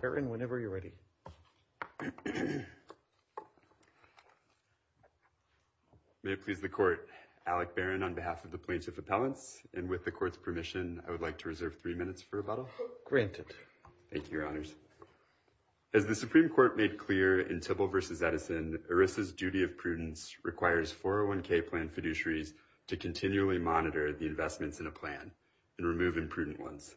Barron whenever you're ready. May it please the court, Alec Barron on behalf of the plaintiff appellants and with the court's permission I would like to reserve three minutes for rebuttal. Granted. Thank you your honors. As the Supreme Court made clear in Tybill versus Edison, Erisa's duty of prudence requires 401k plan fiduciaries to continually monitor the investments in a plan and remove imprudent ones.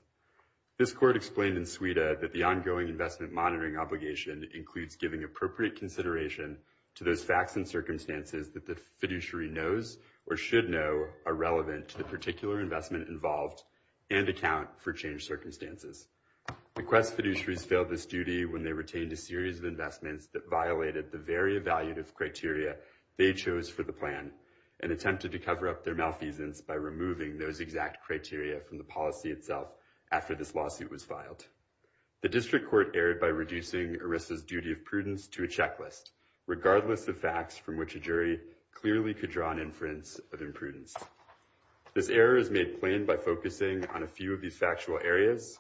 This court explained in Suida that the ongoing investment monitoring obligation includes giving appropriate consideration to those facts and circumstances that the fiduciary knows or should know are relevant to the particular investment involved and account for change circumstances. The Quest fiduciaries failed this duty when they retained a series of investments that violated the very evaluative criteria they chose for the plan and attempted to cover up their malfeasance by removing those exact criteria from the policy itself after this lawsuit was filed. The district court erred by reducing Erisa's duty of prudence to a checklist regardless of facts from which a jury clearly could draw an inference of imprudence. This error is made plain by focusing on a few of these factual areas.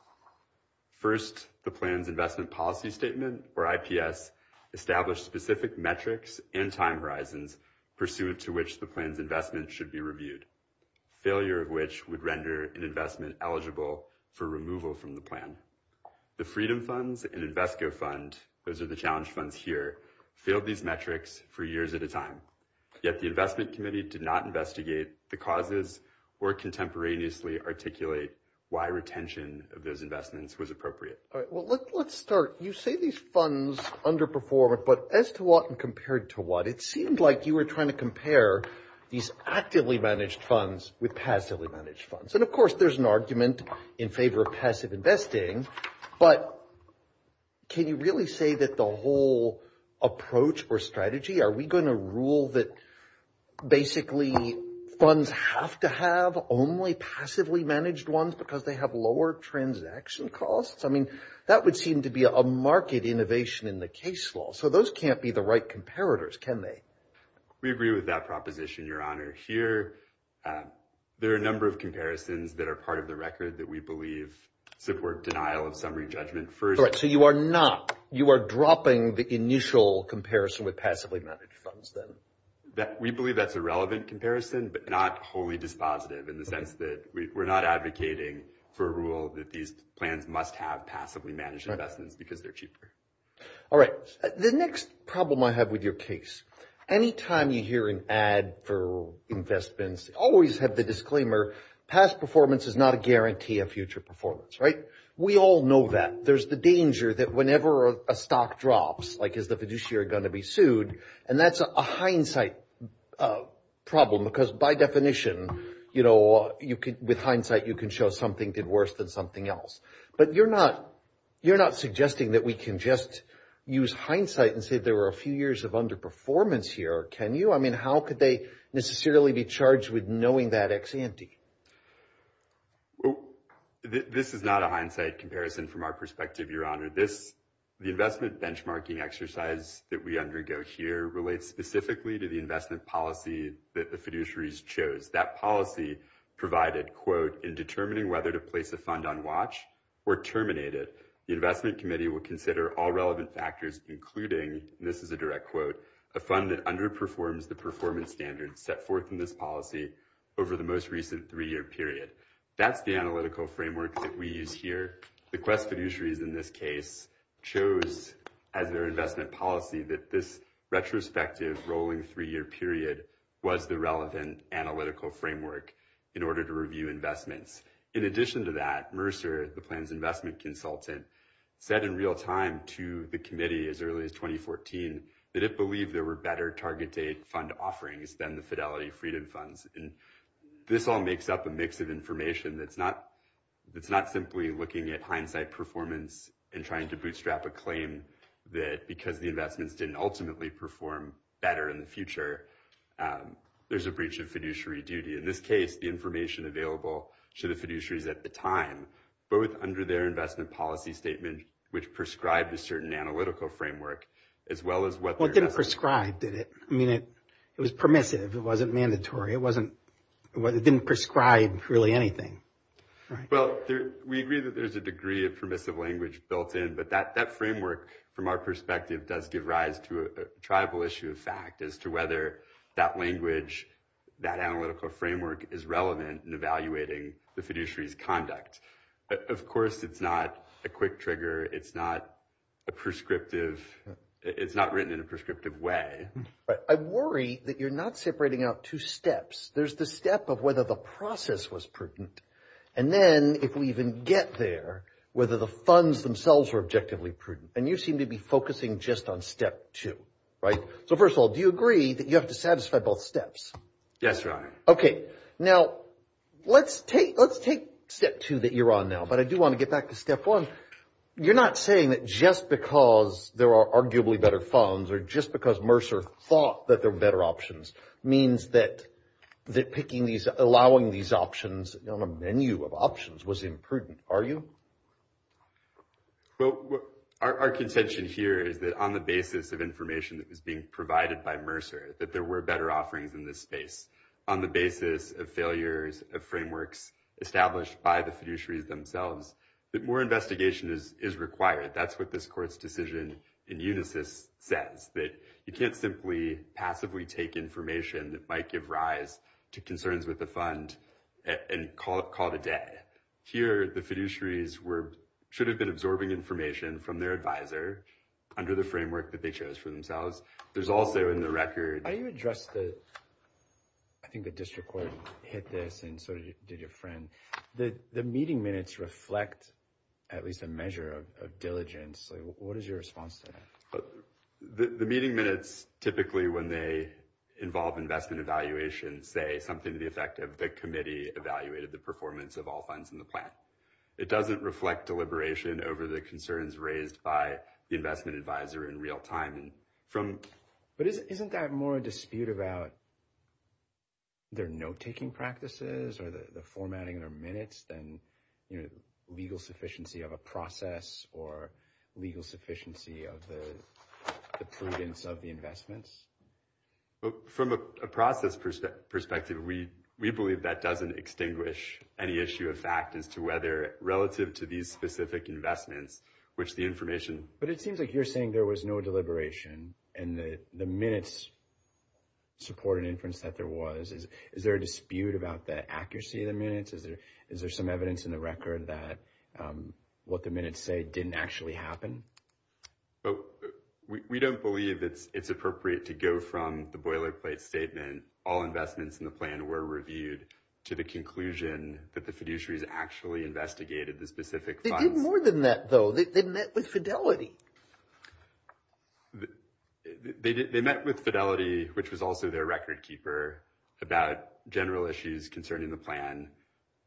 First the plans investment policy statement or IPS established specific metrics and time horizons pursuant to which the plans investment should be reviewed. Failure of which would render an investment eligible for removal from the plan. The Freedom Funds and Invesco Fund, those are the challenge funds here, failed these metrics for years at a time. Yet the investment committee did not investigate the causes or contemporaneously articulate why retention of those investments was appropriate. All right well let's start. You say these funds underperform but as to what and compared to what it seemed like you were trying to compare these actively managed funds with passively managed funds and of course there's an argument in favor of passive investing but can you really say that the whole approach or strategy are we going to rule that basically funds have to have only passively managed ones because they have lower transaction costs? I mean that would seem to be a market innovation in the case law so those can't be the right comparators can they? We agree with that proposition your honor. Here there are a number of comparisons that are part of the record that we believe support denial of summary judgment first. So you are not, you are dropping the initial comparison with passively managed funds then? We believe that's a relevant comparison but not wholly dispositive in the sense that we're not advocating for a rule that these plans must have passively managed investments because they're cheaper. All right the next problem I have with your case anytime you hear an ad for investments always have the disclaimer past performance is not a guarantee of future performance right? We all know that there's the danger that whenever a stock drops like is the fiduciary going to be sued and that's a hindsight problem because by definition you know you could with hindsight you can show something did worse than something else but you're not you're not suggesting that we can just use hindsight and say there were a few years of underperformance here can you? I mean how could they necessarily be charged with knowing that ex-ante? This is not a hindsight comparison from our perspective your honor. This the investment benchmarking exercise that we undergo here relates specifically to the investment policy that the fiduciaries chose. That policy provided quote in determining whether to place a fund on watch or terminate it. The investment committee will consider all relevant factors including this is a direct quote a fund that underperforms the performance standards set forth in this policy over the most recent three-year period. That's the analytical framework that we use here. The quest fiduciaries in this case chose as their investment policy that this retrospective rolling three-year period was the relevant analytical framework in order to review investments. In addition to that Mercer the plans investment consultant said in real time to the committee as early as 2014 that it believed there were better target date fund offerings than the Fidelity Freedom Funds and this all makes up a mix of information that's not it's not simply looking at hindsight performance and trying to bootstrap a claim that because the investments didn't ultimately perform better in the future there's a breach of fiduciary duty. In this case the information available to the fiduciaries at the time both under their investment policy statement which prescribed a certain analytical framework as well as what didn't prescribe did it I mean it it was permissive it wasn't mandatory it wasn't what it didn't prescribe really anything. Well we agree that there's a degree of permissive language built in but that that framework from our perspective does give rise to a tribal issue of fact as to whether that language that analytical framework is relevant in evaluating the fiduciary's conduct. Of course it's not a quick trigger it's not a prescriptive it's not written in a prescriptive way. I worry that you're not separating out two steps there's the step of whether the process was prudent and then if we even get there whether the funds themselves were objectively prudent and you seem to be focusing just on step two right so first of all do you agree that you have to satisfy both steps? Yes your honor. Okay now let's take let's take step two that you're on now but I do want to get back to step one you're not saying that just because there are arguably better funds or just because Mercer thought that there were better options means that that picking these allowing these options on a menu of options was imprudent are you? Well our contention here is that on the basis of information that was being provided by Mercer that there were better offerings in this space on the basis of failures of frameworks established by the fiduciaries themselves that more investigation is is required that's what this court's decision in unisys says that you can't simply passively take information that might give rise to concerns with the fund and call it call it a day. Here the fiduciaries were should have been absorbing information from their advisor under the framework that they chose for themselves there's also in the record. How do you address the I think the district court hit this and so did your friend the the meeting minutes reflect at least a measure of diligence so what is your response to that? The meeting minutes typically when they involve investment evaluation say something to the effect of the committee evaluated the performance of all funds in the plan it doesn't reflect deliberation over the concerns raised by investment advisor in real time. But isn't that more a dispute about their note-taking practices or the formatting their minutes than you know legal sufficiency of a process or legal sufficiency of the prudence of the investments? From a process perspective we we believe that doesn't extinguish any issue of fact as to whether relative to these specific investments which the information. But it seems like you're saying there was no deliberation and the the minutes support an inference that there was is is there a dispute about the accuracy of the minutes is there is there some evidence in the record that what the minutes say didn't actually happen? Oh we don't believe it's it's appropriate to go from the boilerplate statement all investments in the plan were reviewed to the conclusion that the fiduciaries actually investigated the specific funds. They did more than that though, they met with fidelity. They met with fidelity which was also their record keeper about general issues concerning the plan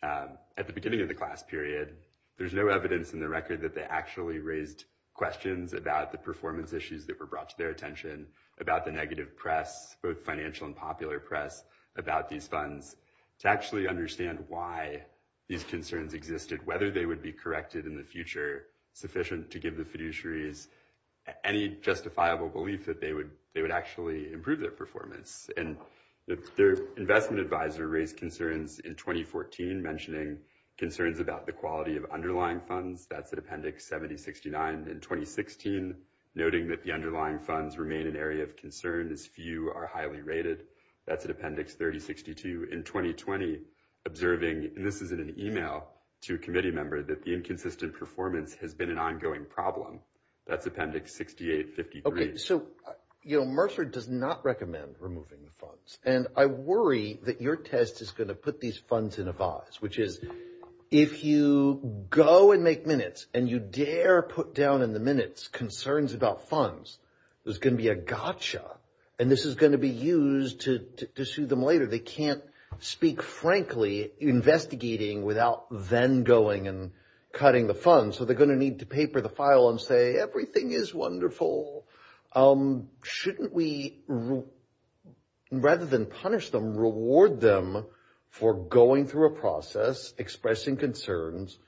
at the beginning of the class period. There's no evidence in the record that they actually raised questions about the performance issues that were brought to their attention about the negative press both financial and popular press about these funds to actually understand why these concerns existed whether they would be corrected in the future sufficient to give the fiduciaries any justifiable belief that they would they would actually improve their performance. And their investment advisor raised concerns in 2014 mentioning concerns about the quality of underlying funds that's at appendix 7069 in 2016 noting that the underlying funds remain an area of concern as few are rated that's an appendix 3062 in 2020 observing this is an email to a committee member that the inconsistent performance has been an ongoing problem that's appendix 6853. Okay so you know Mercer does not recommend removing the funds and I worry that your test is going to put these funds in a vise which is if you go and make minutes and you dare put down in the minutes concerns about funds there's gonna be a gotcha and this is going to be used to sue them later they can't speak frankly investigating without then going and cutting the funds so they're gonna need to paper the file and say everything is wonderful shouldn't we rather than punish them reward them for going through a process expressing concerns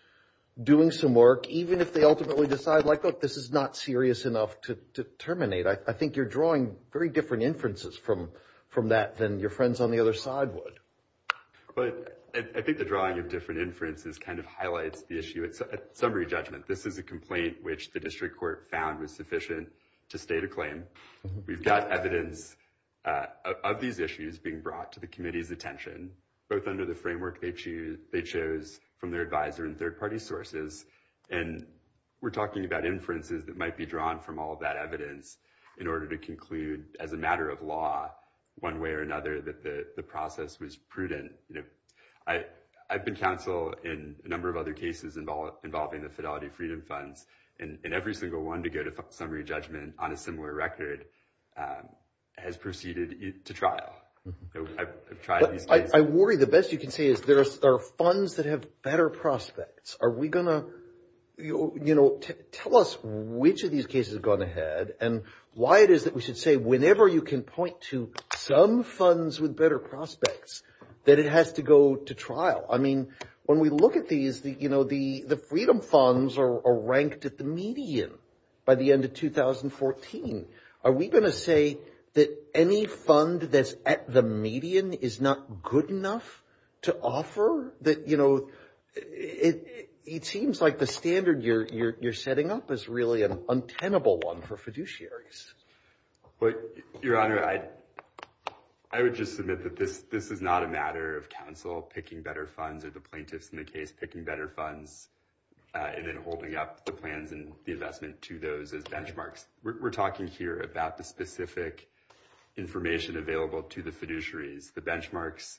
doing some work even if they ultimately decide like look this is not serious enough to terminate I think you're drawing very different inferences from from that than your friends on the other side would but I think the drawing of different inferences kind of highlights the issue it's a summary judgment this is a complaint which the district court found was sufficient to state a claim we've got evidence of these issues being brought to the committee's attention both under the framework they choose from their advisor and third-party sources and we're talking about inferences that might be drawn from all that evidence in order to conclude as a matter of law one way or another that the process was prudent you know I I've been counsel in a number of other cases involved involving the fidelity freedom funds and every single one to go to summary judgment on a similar record has proceeded to trial I worry the best you can say is there are funds that have better prospects are we gonna you know tell us which of these cases have gone ahead and why it is that we should say whenever you can point to some funds with better prospects that it has to go to trial I mean when we look at these that you know the the freedom funds are ranked at the median by the end of 2014 are we gonna say that any fund that's at the median is not good enough to offer that you know it seems like the standard you're you're setting up is really an untenable one for fiduciaries but your honor I I would just submit that this this is not a matter of counsel picking better funds or the plaintiffs in the case picking better funds and then holding up the plans and the investment to those as benchmarks we're talking here about the specific information available to the fiduciaries the benchmarks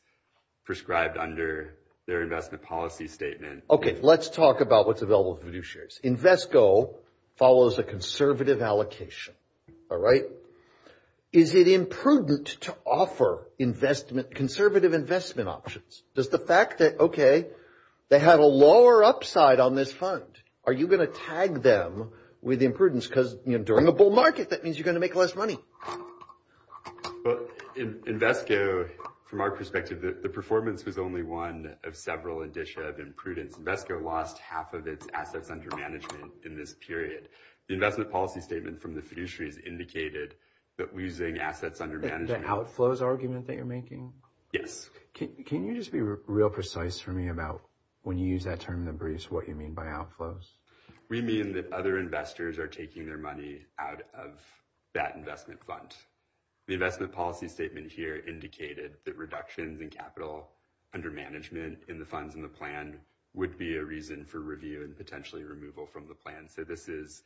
prescribed under their investment policy statement okay let's talk about what's available to do shares invest go follows a conservative allocation all right is it imprudent to offer investment conservative investment options does the fact that okay they had a lower upside on this fund are you gonna tag them with imprudence cuz you know during the bull market that means you're gonna make less money but in Invesco from our perspective that the performance was only one of several indicia of imprudence Invesco lost half of its assets under management in this period the investment policy statement from the fiduciaries indicated that we using assets under management outflows argument that you're making yes can you just be real precise for me about when you use that term in the briefs what you mean by outflows we mean that other investors are taking their money out of that investment fund the investment policy statement here indicated that reductions in capital under management in the funds in the plan would be a reason for review and potentially removal from the plan so this is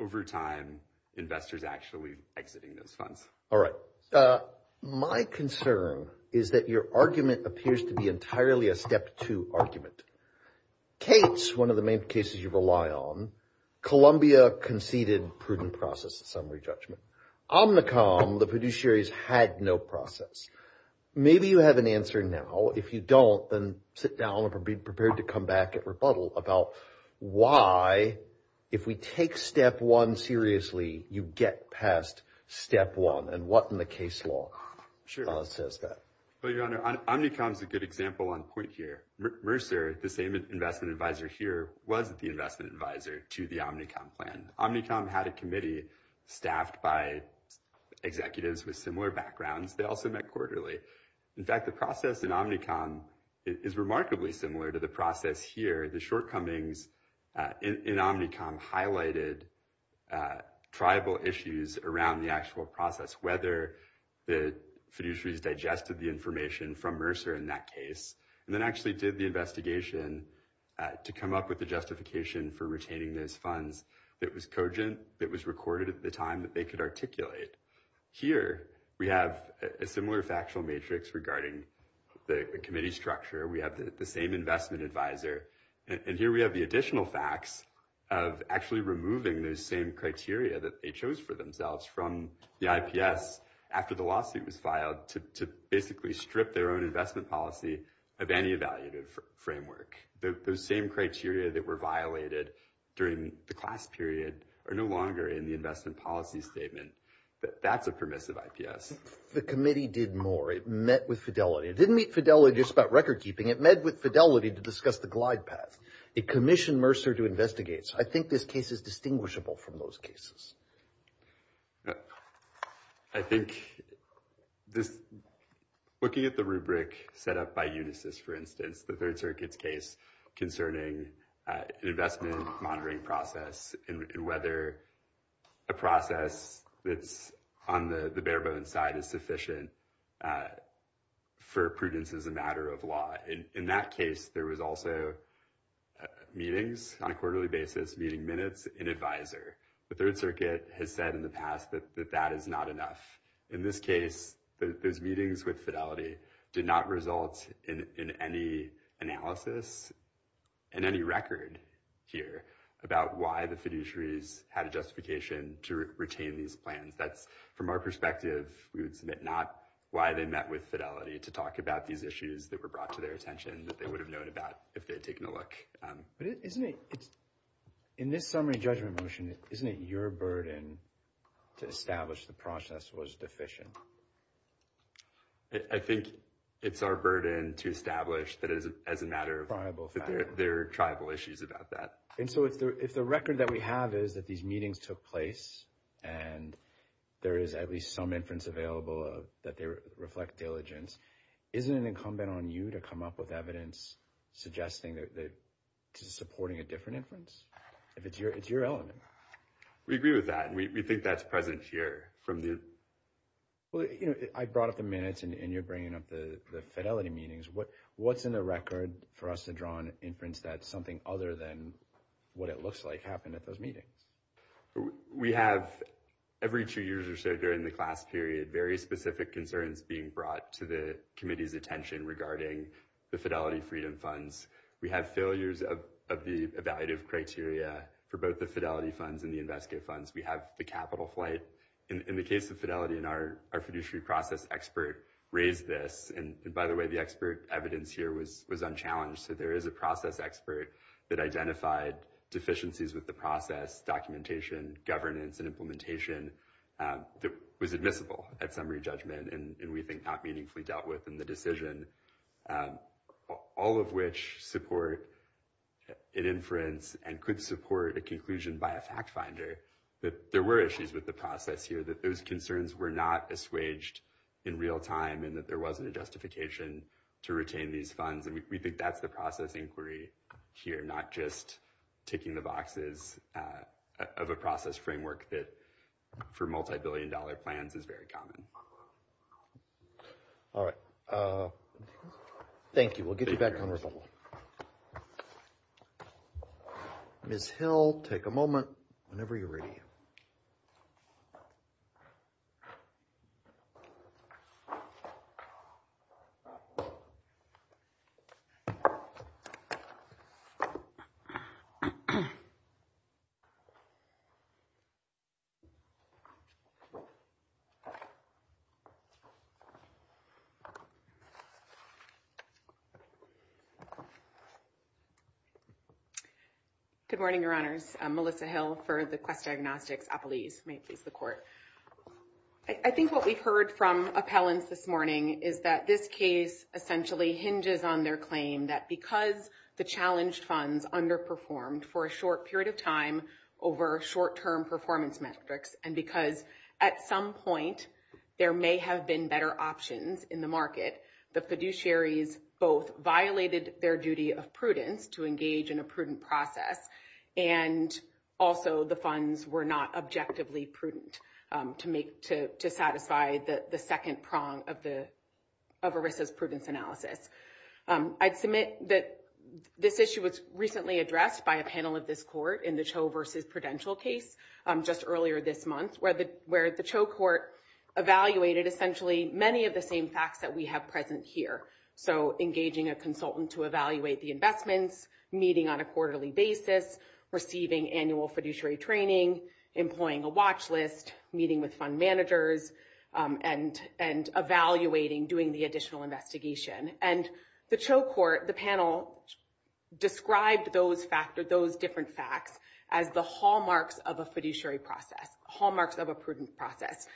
over time investors actually exiting those funds all right my concern is that your argument appears to be entirely a step to argument Kate's one of the main cases you rely on Columbia conceded prudent process summary judgment Omnicom the fiduciaries had no process maybe you have an answer now if you don't then sit down and be prepared to come back at rebuttal about why if we take step one seriously you get past step one and what in the case law sure but your honor Omnicom is a good example on point here Mercer the same investment advisor here wasn't the investment advisor to the Omnicom plan Omnicom had a committee staffed by executives with similar backgrounds they also met quarterly in fact the process in Omnicom is remarkably similar to the process here the shortcomings in Omnicom highlighted tribal issues around the process whether the fiduciaries digested the information from Mercer in that case and then actually did the investigation to come up with the justification for retaining those funds it was cogent it was recorded at the time that they could articulate here we have a similar factual matrix regarding the committee structure we have the same investment advisor and here we have the additional facts of actually removing those same criteria that they chose for themselves from the IPS after the lawsuit was filed to basically strip their own investment policy of any evaluative framework the same criteria that were violated during the class period are no longer in the investment policy statement that that's a permissive IPS the committee did more it met with fidelity it didn't meet fidelity just about record-keeping it met with fidelity to discuss the glide path it commissioned Mercer to I think this case is distinguishable from those cases I think this looking at the rubric set up by Unisys for instance the Third Circuit's case concerning an investment monitoring process in whether a process that's on the the bare-bones side is sufficient for prudence as a matter of law in that case there was also meetings on a quarterly basis meeting minutes in advisor the Third Circuit has said in the past that that is not enough in this case those meetings with fidelity did not result in any analysis and any record here about why the fiduciaries had a justification to retain these plans that's from our perspective we would submit not why they met with fidelity to talk about these issues that were brought to their attention that they would have known about if they had taken a look but isn't it it's in this summary judgment motion isn't it your burden to establish the process was deficient I think it's our burden to establish that is as a matter of their tribal issues about that and so it's there if the record that we have is that these meetings took place and there is at least some inference available that they reflect diligence isn't an incumbent on you to come up with evidence suggesting that supporting a different inference if it's your it's your element we agree with that and we think that's present here from the well you know I brought up the minutes and you're bringing up the fidelity meetings what what's in the record for us to draw an inference that something other than what it looks like happened at those meetings we have every two years or so during the class period very specific concerns being brought to the committee's attention regarding the fidelity freedom funds we have failures of the evaluative criteria for both the fidelity funds and the investigative funds we have the capital flight in the case of fidelity in our our fiduciary process expert raised this and by the way the expert evidence here was was unchallenged so there is a process expert that identified deficiencies with the process documentation governance and implementation that was admissible at summary judgment and we think not meaningfully dealt with in the decision all of which support an inference and could support a conclusion by a fact finder that there were issues with the process here that those concerns were not assuaged in real time and that there wasn't a justification to retain these funds and we think that's the process inquiry here not just ticking the boxes of a process framework that for multi-billion dollar plans is very common all right thank you we'll get good morning your honors Melissa Hill for the quest diagnostics a police may please the court I think what we've heard from appellants this morning is that this case essentially hinges on their claim that because the challenged funds underperformed for a short period of time over short-term performance metrics and because at some point there may have been better options in the market the fiduciaries both violated their duty of prudence to engage in a prudent process and also the funds were not objectively prudent to make to to second prong of the of Arissa's prudence analysis I'd submit that this issue was recently addressed by a panel of this court in the Cho versus prudential case just earlier this month where the where the Cho court evaluated essentially many of the same facts that we have present here so engaging a consultant to evaluate the investments meeting on a quarterly basis receiving annual fiduciary training employing a watch list meeting with fund managers and and evaluating doing the additional investigation and the Cho court the panel described those factor those different facts as the hallmarks of a fiduciary process hallmarks of a prudent process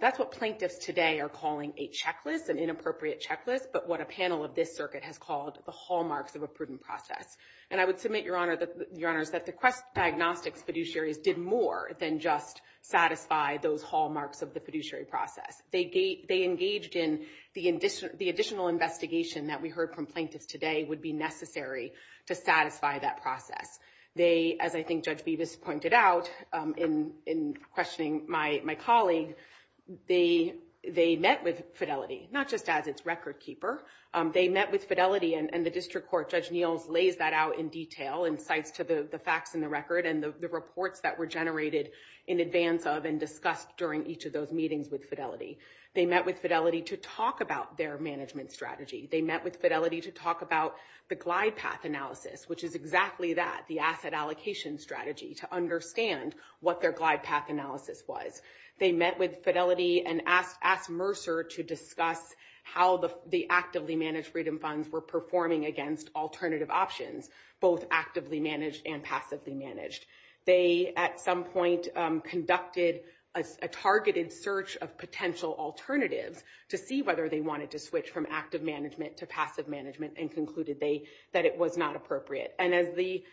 that's what plaintiffs today are calling a checklist an inappropriate checklist but what a panel of this circuit has called the hallmarks of a prudent process and I would submit your honor that your honors that the quest diagnostics fiduciaries did more than just satisfy those hallmarks of the fiduciary process they gate they engaged in the addition the additional investigation that we heard from plaintiffs today would be necessary to satisfy that process they as I think judge Beavis pointed out in in questioning my my colleague they they met with fidelity not just as its record keeper they met with fidelity and the district court judge Neils lays that out in detail and cites to the the facts in record and the reports that were generated in advance of and discussed during each of those meetings with fidelity they met with fidelity to talk about their management strategy they met with fidelity to talk about the glide path analysis which is exactly that the asset allocation strategy to understand what their glide path analysis was they met with fidelity and asked asked Mercer to discuss how the the actively managed freedom funds were performing against alternative options both actively managed and passively managed they at some point conducted a targeted search of potential alternatives to see whether they wanted to switch from active management to passive management and concluded they that it was not appropriate and as the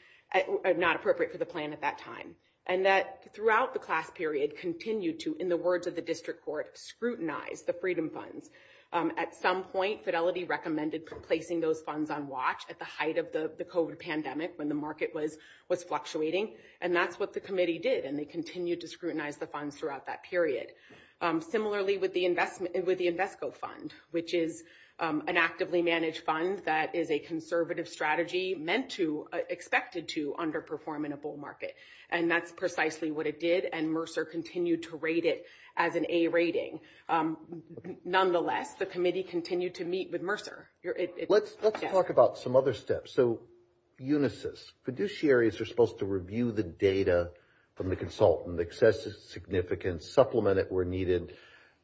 not appropriate for the plan at that time and that throughout the class period continued to in the words of the district court scrutinize the freedom funds at some Fidelity recommended for placing those funds on watch at the height of the COVID pandemic when the market was was fluctuating and that's what the committee did and they continued to scrutinize the funds throughout that period similarly with the investment with the Invesco fund which is an actively managed fund that is a conservative strategy meant to expected to underperform in a bull market and that's precisely what it did and Mercer continued to rate it as an A rating nonetheless the committee continued to meet with Mercer let's talk about some other steps so Unisys fiduciaries are supposed to review the data from the consultant excessive significance supplement it were needed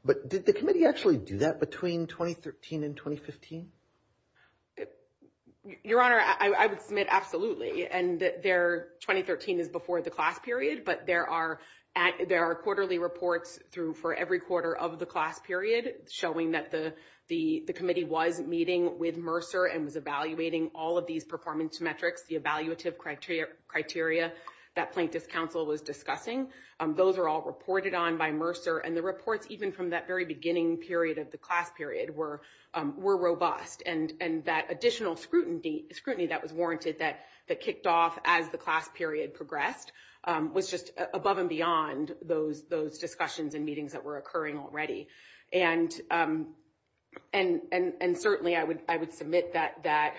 but did the committee actually do that between 2013 and 2015 your honor I would submit absolutely and their 2013 is before the class period but there are at there are quarterly reports through for every quarter of the class period showing that the the the committee was meeting with Mercer and was evaluating all of these performance metrics the evaluative criteria criteria that plaintiff's counsel was discussing those are all reported on by Mercer and the reports even from that very beginning period of the class period were were robust and and that additional scrutiny scrutiny that was warranted that that kicked off as the class period progressed was just above and beyond those those discussions and meetings that were occurring already and and and and certainly I would I would submit that that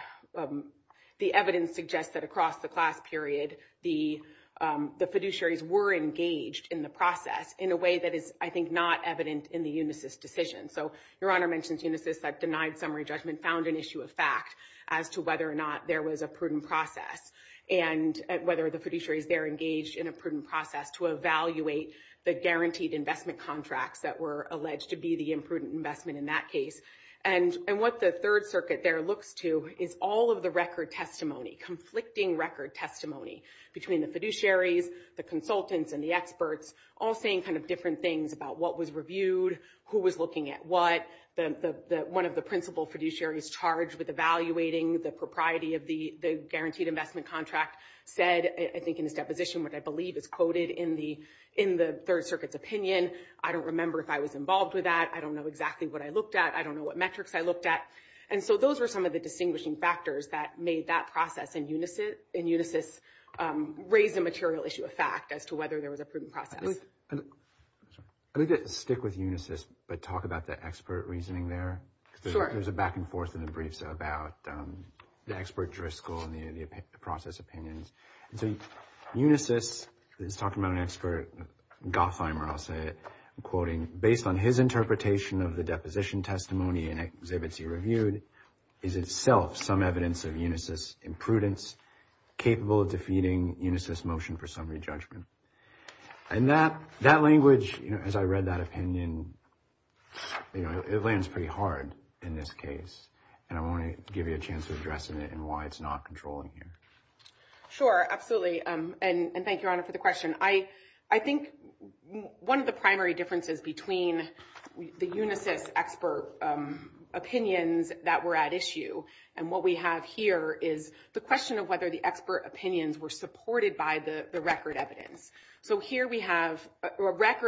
the evidence suggests that across the class period the the fiduciaries were engaged in the process in a way that is I think not evident in the Unisys decision so your honor mentions Unisys that denied summary judgment found an issue of fact as to whether or not there was a prudent process and whether the fiduciaries there engaged in a prudent process to evaluate the guaranteed investment contracts that were alleged to be the imprudent investment in that case and and what the Third Circuit there looks to is all of the record testimony conflicting record testimony between the fiduciaries the consultants and the experts all saying kind of different things about what was reviewed who was looking at what the one of the principal fiduciaries charged with evaluating the propriety of the the guaranteed investment contract said I think in this deposition what I believe is quoted in the in the Third Circuit's opinion I don't remember if I was involved with that I don't know exactly what I looked at I don't know what metrics I looked at and so those were some of the distinguishing factors that made that process in Unisys in Unisys raise a material issue of fact as to whether there was a prudent process. I'd like to stick with Unisys but talk about the expert reasoning there there's a back-and-forth in the briefs about the expert jurisdical and the process opinions. So Unisys is talking about an expert Gothheimer I'll say quoting based on his interpretation of the deposition testimony and exhibits he reviewed is itself some evidence of Unisys imprudence capable of defeating Unisys motion for summary judgment and that language as I read that opinion you know it lands pretty hard in this case and I want to give you a chance to address it and why it's not controlling here. Sure absolutely and thank your honor for the question I I think one of the primary differences between the Unisys expert opinions that were at issue and what we have here is the question of whether the expert opinions were supported by the record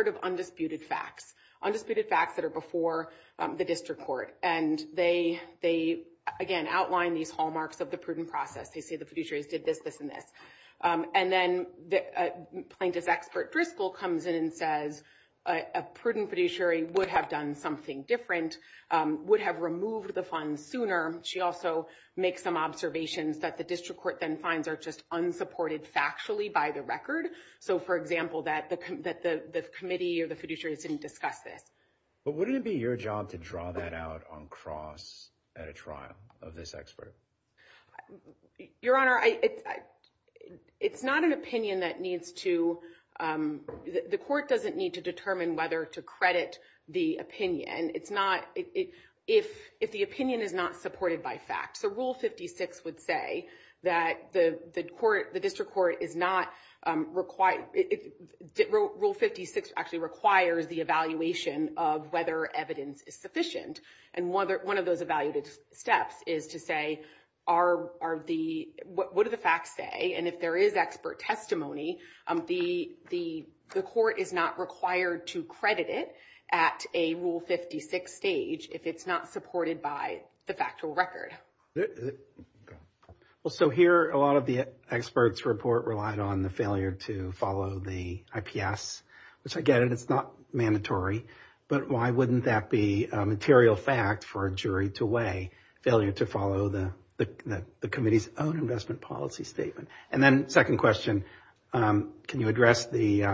of undisputed facts undisputed facts that are before the district court and they they again outline these hallmarks of the prudent process they say the fiduciaries did this this and this and then the plaintiff's expert Driscoll comes in and says a prudent fiduciary would have done something different would have removed the funds sooner she also makes some observations that the district court then finds are just unsupported factually by the record so for example that the committee or the fiduciaries didn't discuss this but wouldn't it be your job to draw that out on cross at a trial of this expert your honor I it's not an opinion that needs to the court doesn't need to determine whether to credit the opinion it's not it if if the opinion is not supported by fact the rule 56 would say that the the court the district court is not required it did rule 56 actually requires the evaluation of whether evidence is sufficient and whether one of those evaluated steps is to say are are the what are the facts say and if there is expert testimony the the the court is not required to credit it at a rule 56 stage if it's not supported by the factual record well so here a lot of the experts report relied on the failure to follow the IPS which I get it it's not mandatory but why wouldn't that be material fact for a jury to weigh failure to follow the the committee's own investment policy statement and then second question can you address the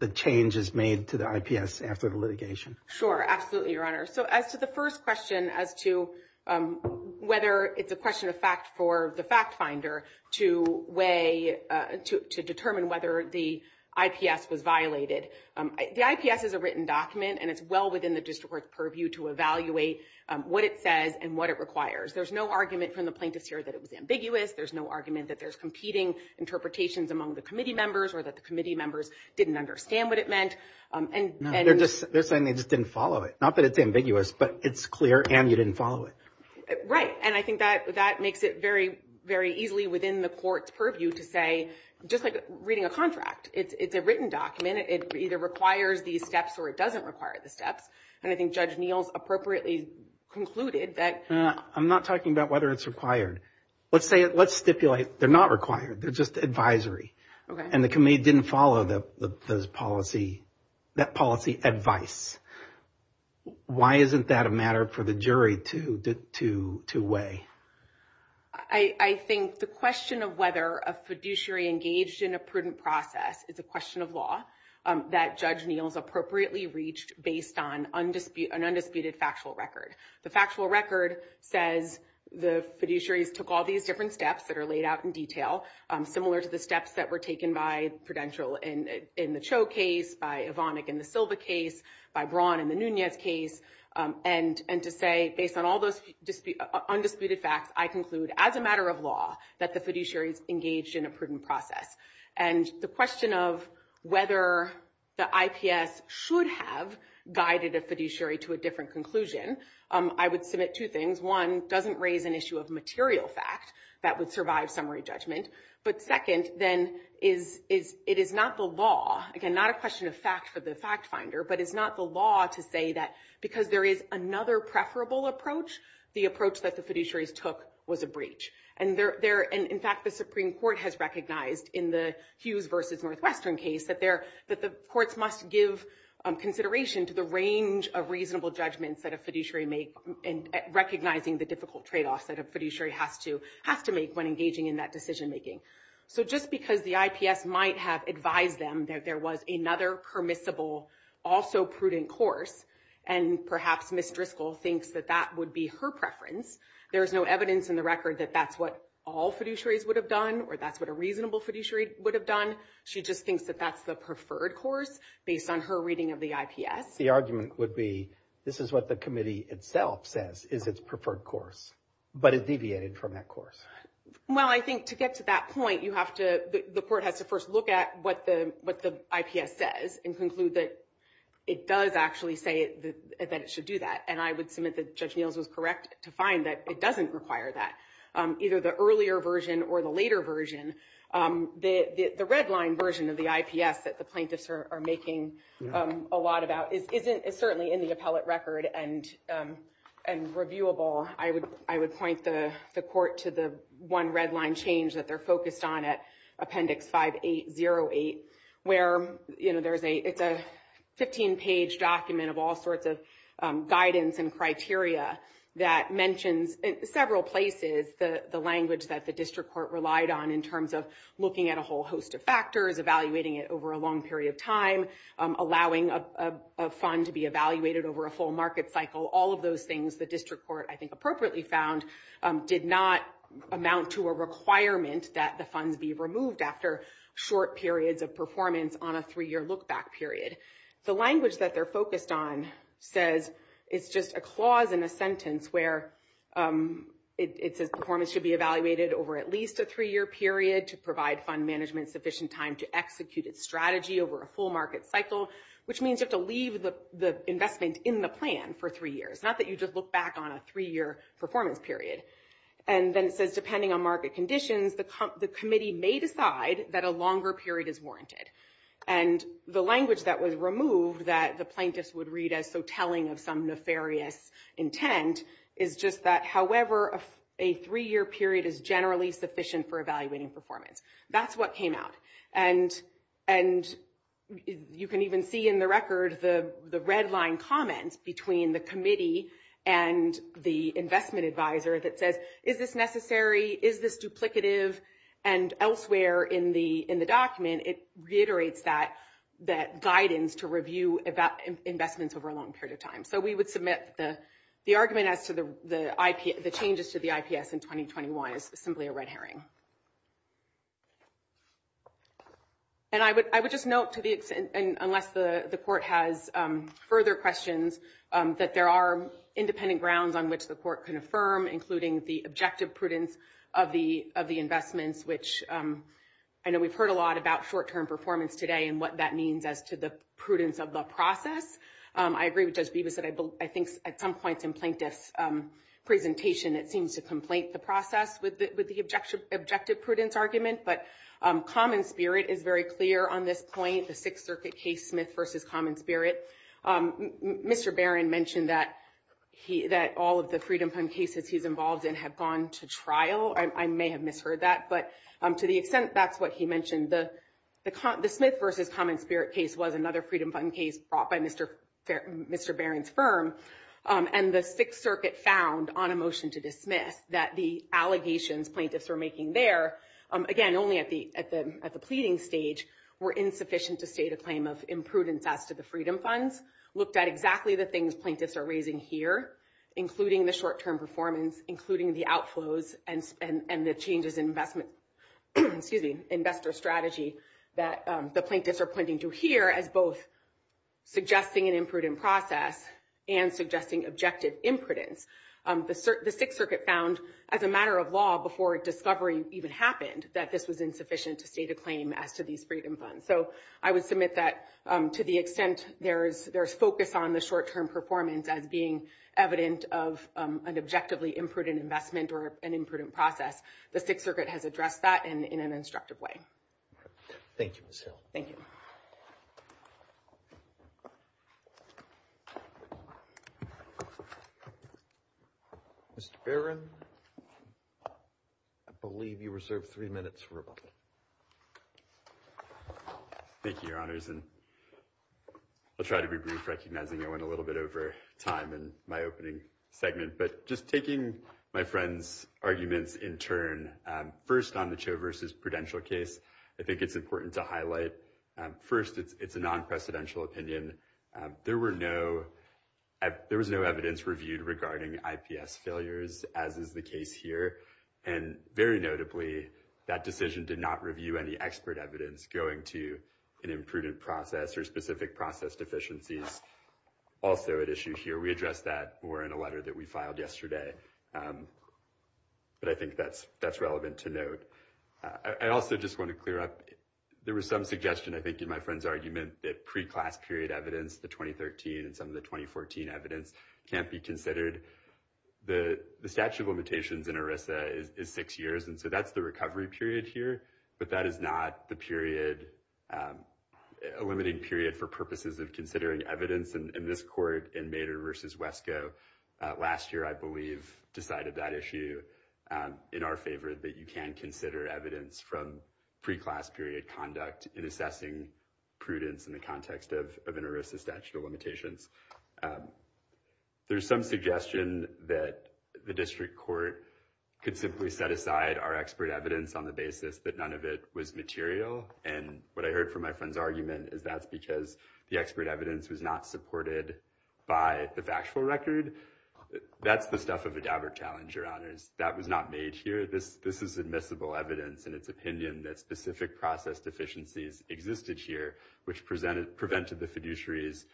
the changes made to the IPS after the litigation sure absolutely your honor so as to the first question as to whether it's a question of fact for the fact finder to weigh to determine whether the IPS was violated the IPS is a written document and it's well within the district court's purview to evaluate what it says and what it requires there's no argument from the plaintiffs here that it was ambiguous there's no argument that there's competing interpretations among the committee members or that the committee members didn't understand what it meant and they're just they're saying they just didn't follow it not that it's ambiguous but it's clear and you didn't follow it right and I think that that makes it very very easily within the court's purview to say just like reading a contract it's a written document it either requires these steps or it doesn't require the steps and I think judge Neal's appropriately concluded that I'm not talking about whether it's required let's say it let's stipulate they're not required they're just advisory and the committee didn't follow the policy that policy advice why isn't that a matter for the jury to to to weigh I I think the question of whether a fiduciary engaged in a prudent process is a question of law that judge Neal's appropriately reached based on undisputed an undisputed factual record the factual record says the fiduciaries took all these different steps that are laid out in detail similar to the steps that were taken by Prudential and in the case by Evonik in the Silva case by Braun in the Nunez case and and to say based on all those undisputed facts I conclude as a matter of law that the fiduciaries engaged in a prudent process and the question of whether the IPS should have guided a fiduciary to a different conclusion I would submit two things one doesn't raise an issue of material fact that would survive summary judgment but second then is is it is not the law again not a question of fact for the fact finder but it's not the law to say that because there is another preferable approach the approach that the fiduciaries took was a breach and they're there and in fact the Supreme Court has recognized in the Hughes versus Northwestern case that they're that the courts must give consideration to the range of reasonable judgments that a fiduciary make and recognizing the difficult trade-offs that a fiduciary has to have to make when engaging in that decision-making so just because the IPS might have advised them that there was another permissible also prudent course and perhaps Miss Driscoll thinks that that would be her preference there is no evidence in the record that that's what all fiduciaries would have done or that's what a reasonable fiduciary would have done she just thinks that that's the preferred course based on her reading of the IPS the argument would be this is what the committee itself says is its preferred course but it deviated from that course well I think to get to that point you have to the court has to first look at what the what the IPS says and conclude that it does actually say that it should do that and I would submit that judge Neils was correct to find that it doesn't require that either the earlier version or the later version the the redline version of the IPS that the plaintiffs are making a lot about is isn't it certainly in the appellate record and and reviewable I would I would point the the court to the one redline change that they're focused on at appendix 5808 where you know there's a it's a 15 page document of all sorts of guidance and criteria that mentions in several places the the language that the district court relied on in terms of looking at a whole host of factors evaluating it over a long period of time allowing a fund to be evaluated over a full market cycle all of those things the district court I think appropriately found did not amount to a requirement that the funds be removed after short periods of performance on a three-year look-back period the language that they're focused on says it's just a clause in a sentence where it says performance should be evaluated over at least a three-year period to provide fund management sufficient time to execute its strategy over a full market cycle which means you have to leave the the investment in the plan for three years not that you just look back on a three-year performance period and then it says depending on market conditions the committee may decide that a longer period is warranted and the language that was removed that the plaintiffs would read as so telling of some nefarious intent is just that however a three-year period is generally sufficient for evaluating performance that's what came out and and you can even see in the record the the redline comments between the committee and the investment advisor that says is this necessary is this duplicative and elsewhere in the in the document it reiterates that that guidance to review about investments over a long period of time so we would submit the the argument as to the IP the changes to the IPS in 2021 is simply a red herring and I would I would just note to the extent and unless the the court has further questions that there are independent grounds on which the court can affirm including the objective prudence of the of the investments which I know we've heard a lot about short-term performance today and what that means as to the prudence of the process I agree with Judge Beebe said I think at some points in plaintiffs presentation it seems to complaint the process with the objective objective prudence argument but common spirit is very clear on this point the Sixth Circuit case Smith versus common spirit Mr. Barron mentioned that he that all of the Freedom Fund cases he's involved in have gone to trial I may have misheard that but to the extent that's what he mentioned the the Smith versus common spirit case was another Freedom Fund case brought by Mr. Barron's firm and the Sixth Circuit found on a motion to dismiss that the allegations plaintiffs were making there again only at the at the at the pleading stage were insufficient to state a claim of imprudence as to the Freedom Funds looked at exactly the things plaintiffs are raising here including the short-term performance including the outflows and and the changes in investment excuse me investor strategy that the plaintiffs are pointing to here as both suggesting an imprudent process and suggesting objective imprudence the Sixth Circuit found as a matter of law before discovery even happened that this was insufficient to state a claim as to these Freedom Funds so I would submit that to the extent there is there's focus on the short-term performance as being evident of an objectively imprudent investment or an imprudent process the Sixth Circuit has addressed that and in an instructive way thank you thank you mr. Barron I believe you reserved three minutes for thank you your honors and I'll try to be brief recognizing I went a little bit over time and my opening segment but just taking my friends arguments in turn first on the Cho versus prudential case I think it's important to highlight first it's a non-precedential opinion there were no there was no evidence reviewed regarding IPS failures as is the case here and very notably that decision did not review any expert evidence going to an imprudent process or specific process deficiencies also at issue here we address that or in a to note I also just want to clear up there was some suggestion I think in my friend's argument that pre-class period evidence the 2013 and some of the 2014 evidence can't be considered the the statute of limitations in ERISA is six years and so that's the recovery period here but that is not the period a limiting period for purposes of considering evidence and in this court and made her versus Wesco last year I believe decided that issue in our favor that you can consider evidence from pre-class period conduct in assessing prudence in the context of an ERISA statute of limitations there's some suggestion that the district court could simply set aside our expert evidence on the basis that none of it was material and what I heard from my friends argument is that's because the expert evidence was not supported by the factual record that's the stuff of a dapper challenge your honors that was not made here this this is admissible evidence in its opinion that specific process deficiencies existed here which presented prevented the fiduciaries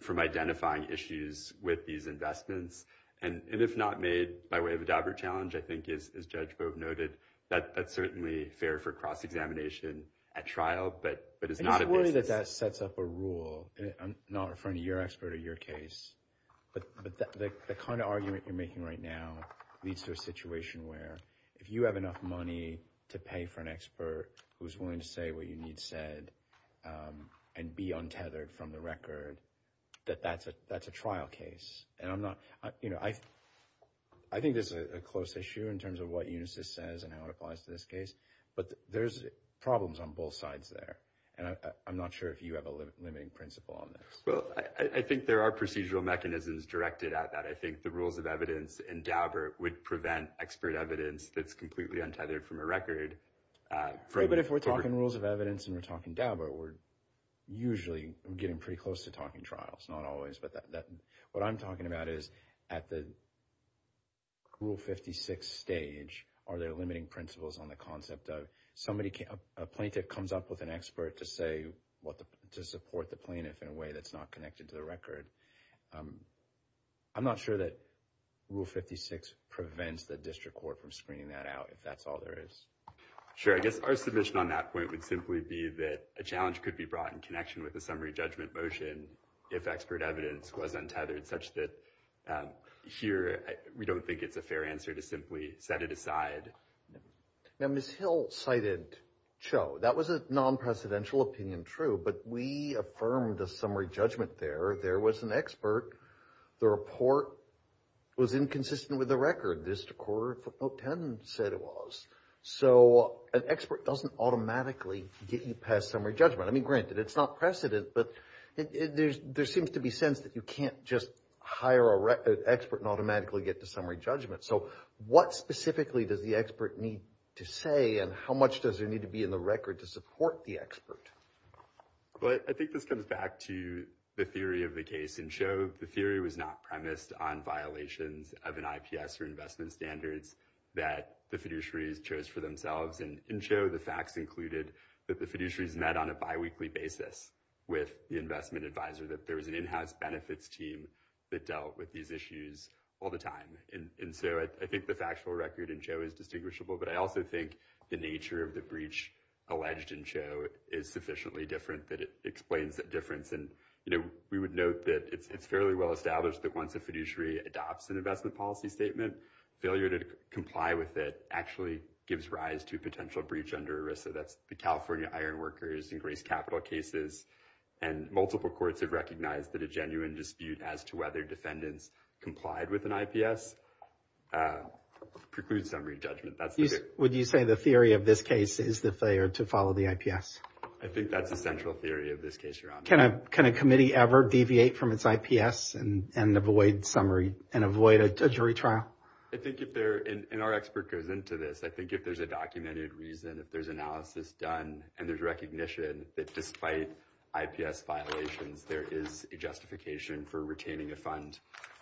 from identifying issues with these investments and if not made by way of a dapper challenge I think is judge Bob noted that that's certainly fair for cross-examination at trial but but it's not a worry that that sets up a rule I'm not referring to your expert or your case but the kind of argument you're making right now leads to a situation where if you have enough money to pay for an expert who's willing to say what you need said and be untethered from the record that that's a that's a trial case and I'm not you know I I think this is a close issue in terms of what Unisys says and how it applies to this case but there's problems on both sides there and I'm not sure if you have a limiting principle on this well I think there are procedural mechanisms directed at that I think the rules of evidence and Daubert would prevent expert evidence that's completely untethered from a record but if we're talking rules of evidence and we're talking Daubert we're usually getting pretty close to talking trials not always but that what I'm talking about is at the rule 56 stage are there limiting principles on the concept of somebody can't a plaintiff comes up with an expert to say what to support the plaintiff in a way that's not connected to the record I'm not sure that rule 56 prevents the district court from screening that out if that's all there is sure I guess our submission on that point would simply be that a challenge could be brought in connection with a summary judgment motion if expert evidence was untethered such that here we don't think it's a fair answer to simply set it aside now miss Hill cited Cho that was a non-presidential opinion true but we affirmed the summary judgment there there was an expert the report was inconsistent with the record this quarter 10 said it was so an expert doesn't automatically get you past summary judgment I mean granted it's not precedent but there seems to be sense that you can't just hire a record expert and automatically get to summary judgment so what specifically does the expert need to say and how much does there need to be in the record to support the expert but I think this goes back to the theory of the case and show the theory was not premised on violations of an IPS or investment standards that the fiduciaries chose for themselves and in show the facts included that the fiduciaries met on a bi-weekly basis with the investment advisor that there was an in-house benefits team that dealt with these issues all the time and so I think the factual record in Joe is distinguishable but I also think the nature of the and you know we would note that it's fairly well established that once a fiduciary adopts an investment policy statement failure to comply with it actually gives rise to potential breach under ERISA that's the California iron workers and grace capital cases and multiple courts have recognized that a genuine dispute as to whether defendants complied with an IPS precludes summary judgment that's would you say the theory of this case is the failure to follow the IPS I think that's a central theory of this case you're on can I kind of committee ever deviate from its IPS and avoid summary and avoid a jury trial I think if they're in our expert goes into this I think if there's a documented reason if there's analysis done and there's recognition that despite IPS violations there is a justification for retaining a fund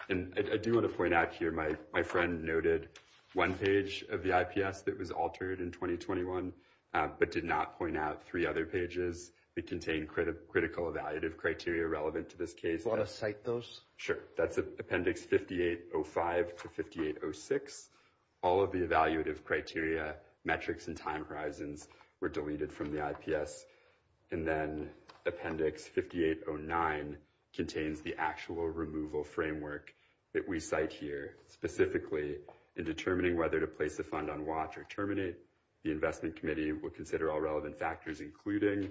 and I do want to point out here my my friend noted one page of the IPS that was altered in 2021 but did not point out three other pages it contained critical evaluative criteria relevant to this case a lot of site those sure that's a appendix 5805 to 5806 all of the evaluative criteria metrics and time horizons were deleted from the IPS and then appendix 5809 contains the actual removal framework that we cite here specifically in determining whether to place the fund on watch or terminate the Investment Committee will consider all relevant factors including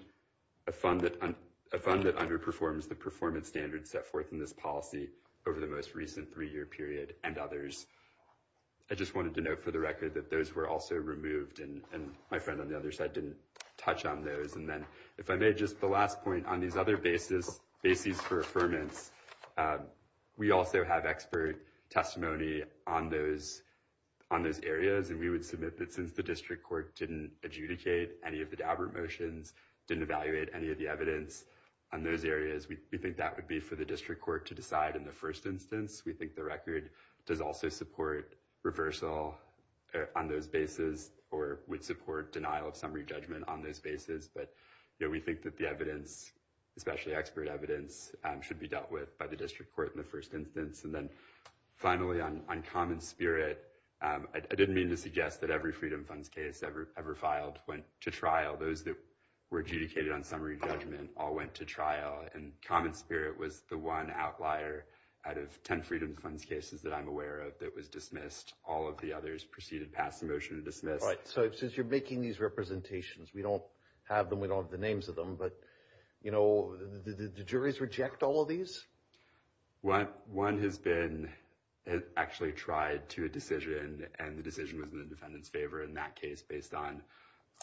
a fund that on a fund that underperforms the performance standards set forth in this policy over the most recent three-year period and others I just wanted to note for the record that those were also removed and and my friend on the other side didn't touch on those and then if I made just the last point on these other basis bases for affirmance we also have expert testimony on those on those areas and we would submit that since the district court didn't adjudicate any of the Daubert motions didn't evaluate any of the evidence on those areas we think that would be for the district court to decide in the first instance we think the record does also support reversal on those bases or would support denial of summary judgment on those bases but you know we think that the evidence especially expert evidence should be by the district court in the first instance and then finally on common spirit I didn't mean to suggest that every Freedom Funds case ever ever filed went to trial those that were adjudicated on summary judgment all went to trial and common spirit was the one outlier out of ten Freedom Funds cases that I'm aware of that was dismissed all of the others proceeded past the motion to dismiss right so if since you're making these representations we don't have them we don't have the names of them but you know the juries reject all these what one has been actually tried to a decision and the decision was in the defendant's favor in that case based on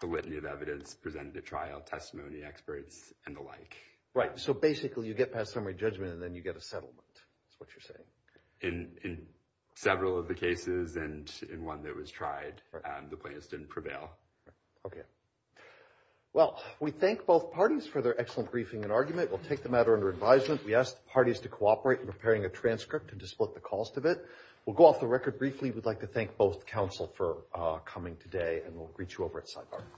the litany of evidence presented at trial testimony experts and the like right so basically you get past summary judgment and then you get a settlement that's what you're saying in several of the cases and in one that was tried the plaintiffs didn't prevail okay well we thank both parties for their excellent briefing and argument we'll take the order under advisement we asked parties to cooperate in preparing a transcript and to split the cost of it we'll go off the record briefly we'd like to thank both counsel for coming today and we'll greet you over at sidebar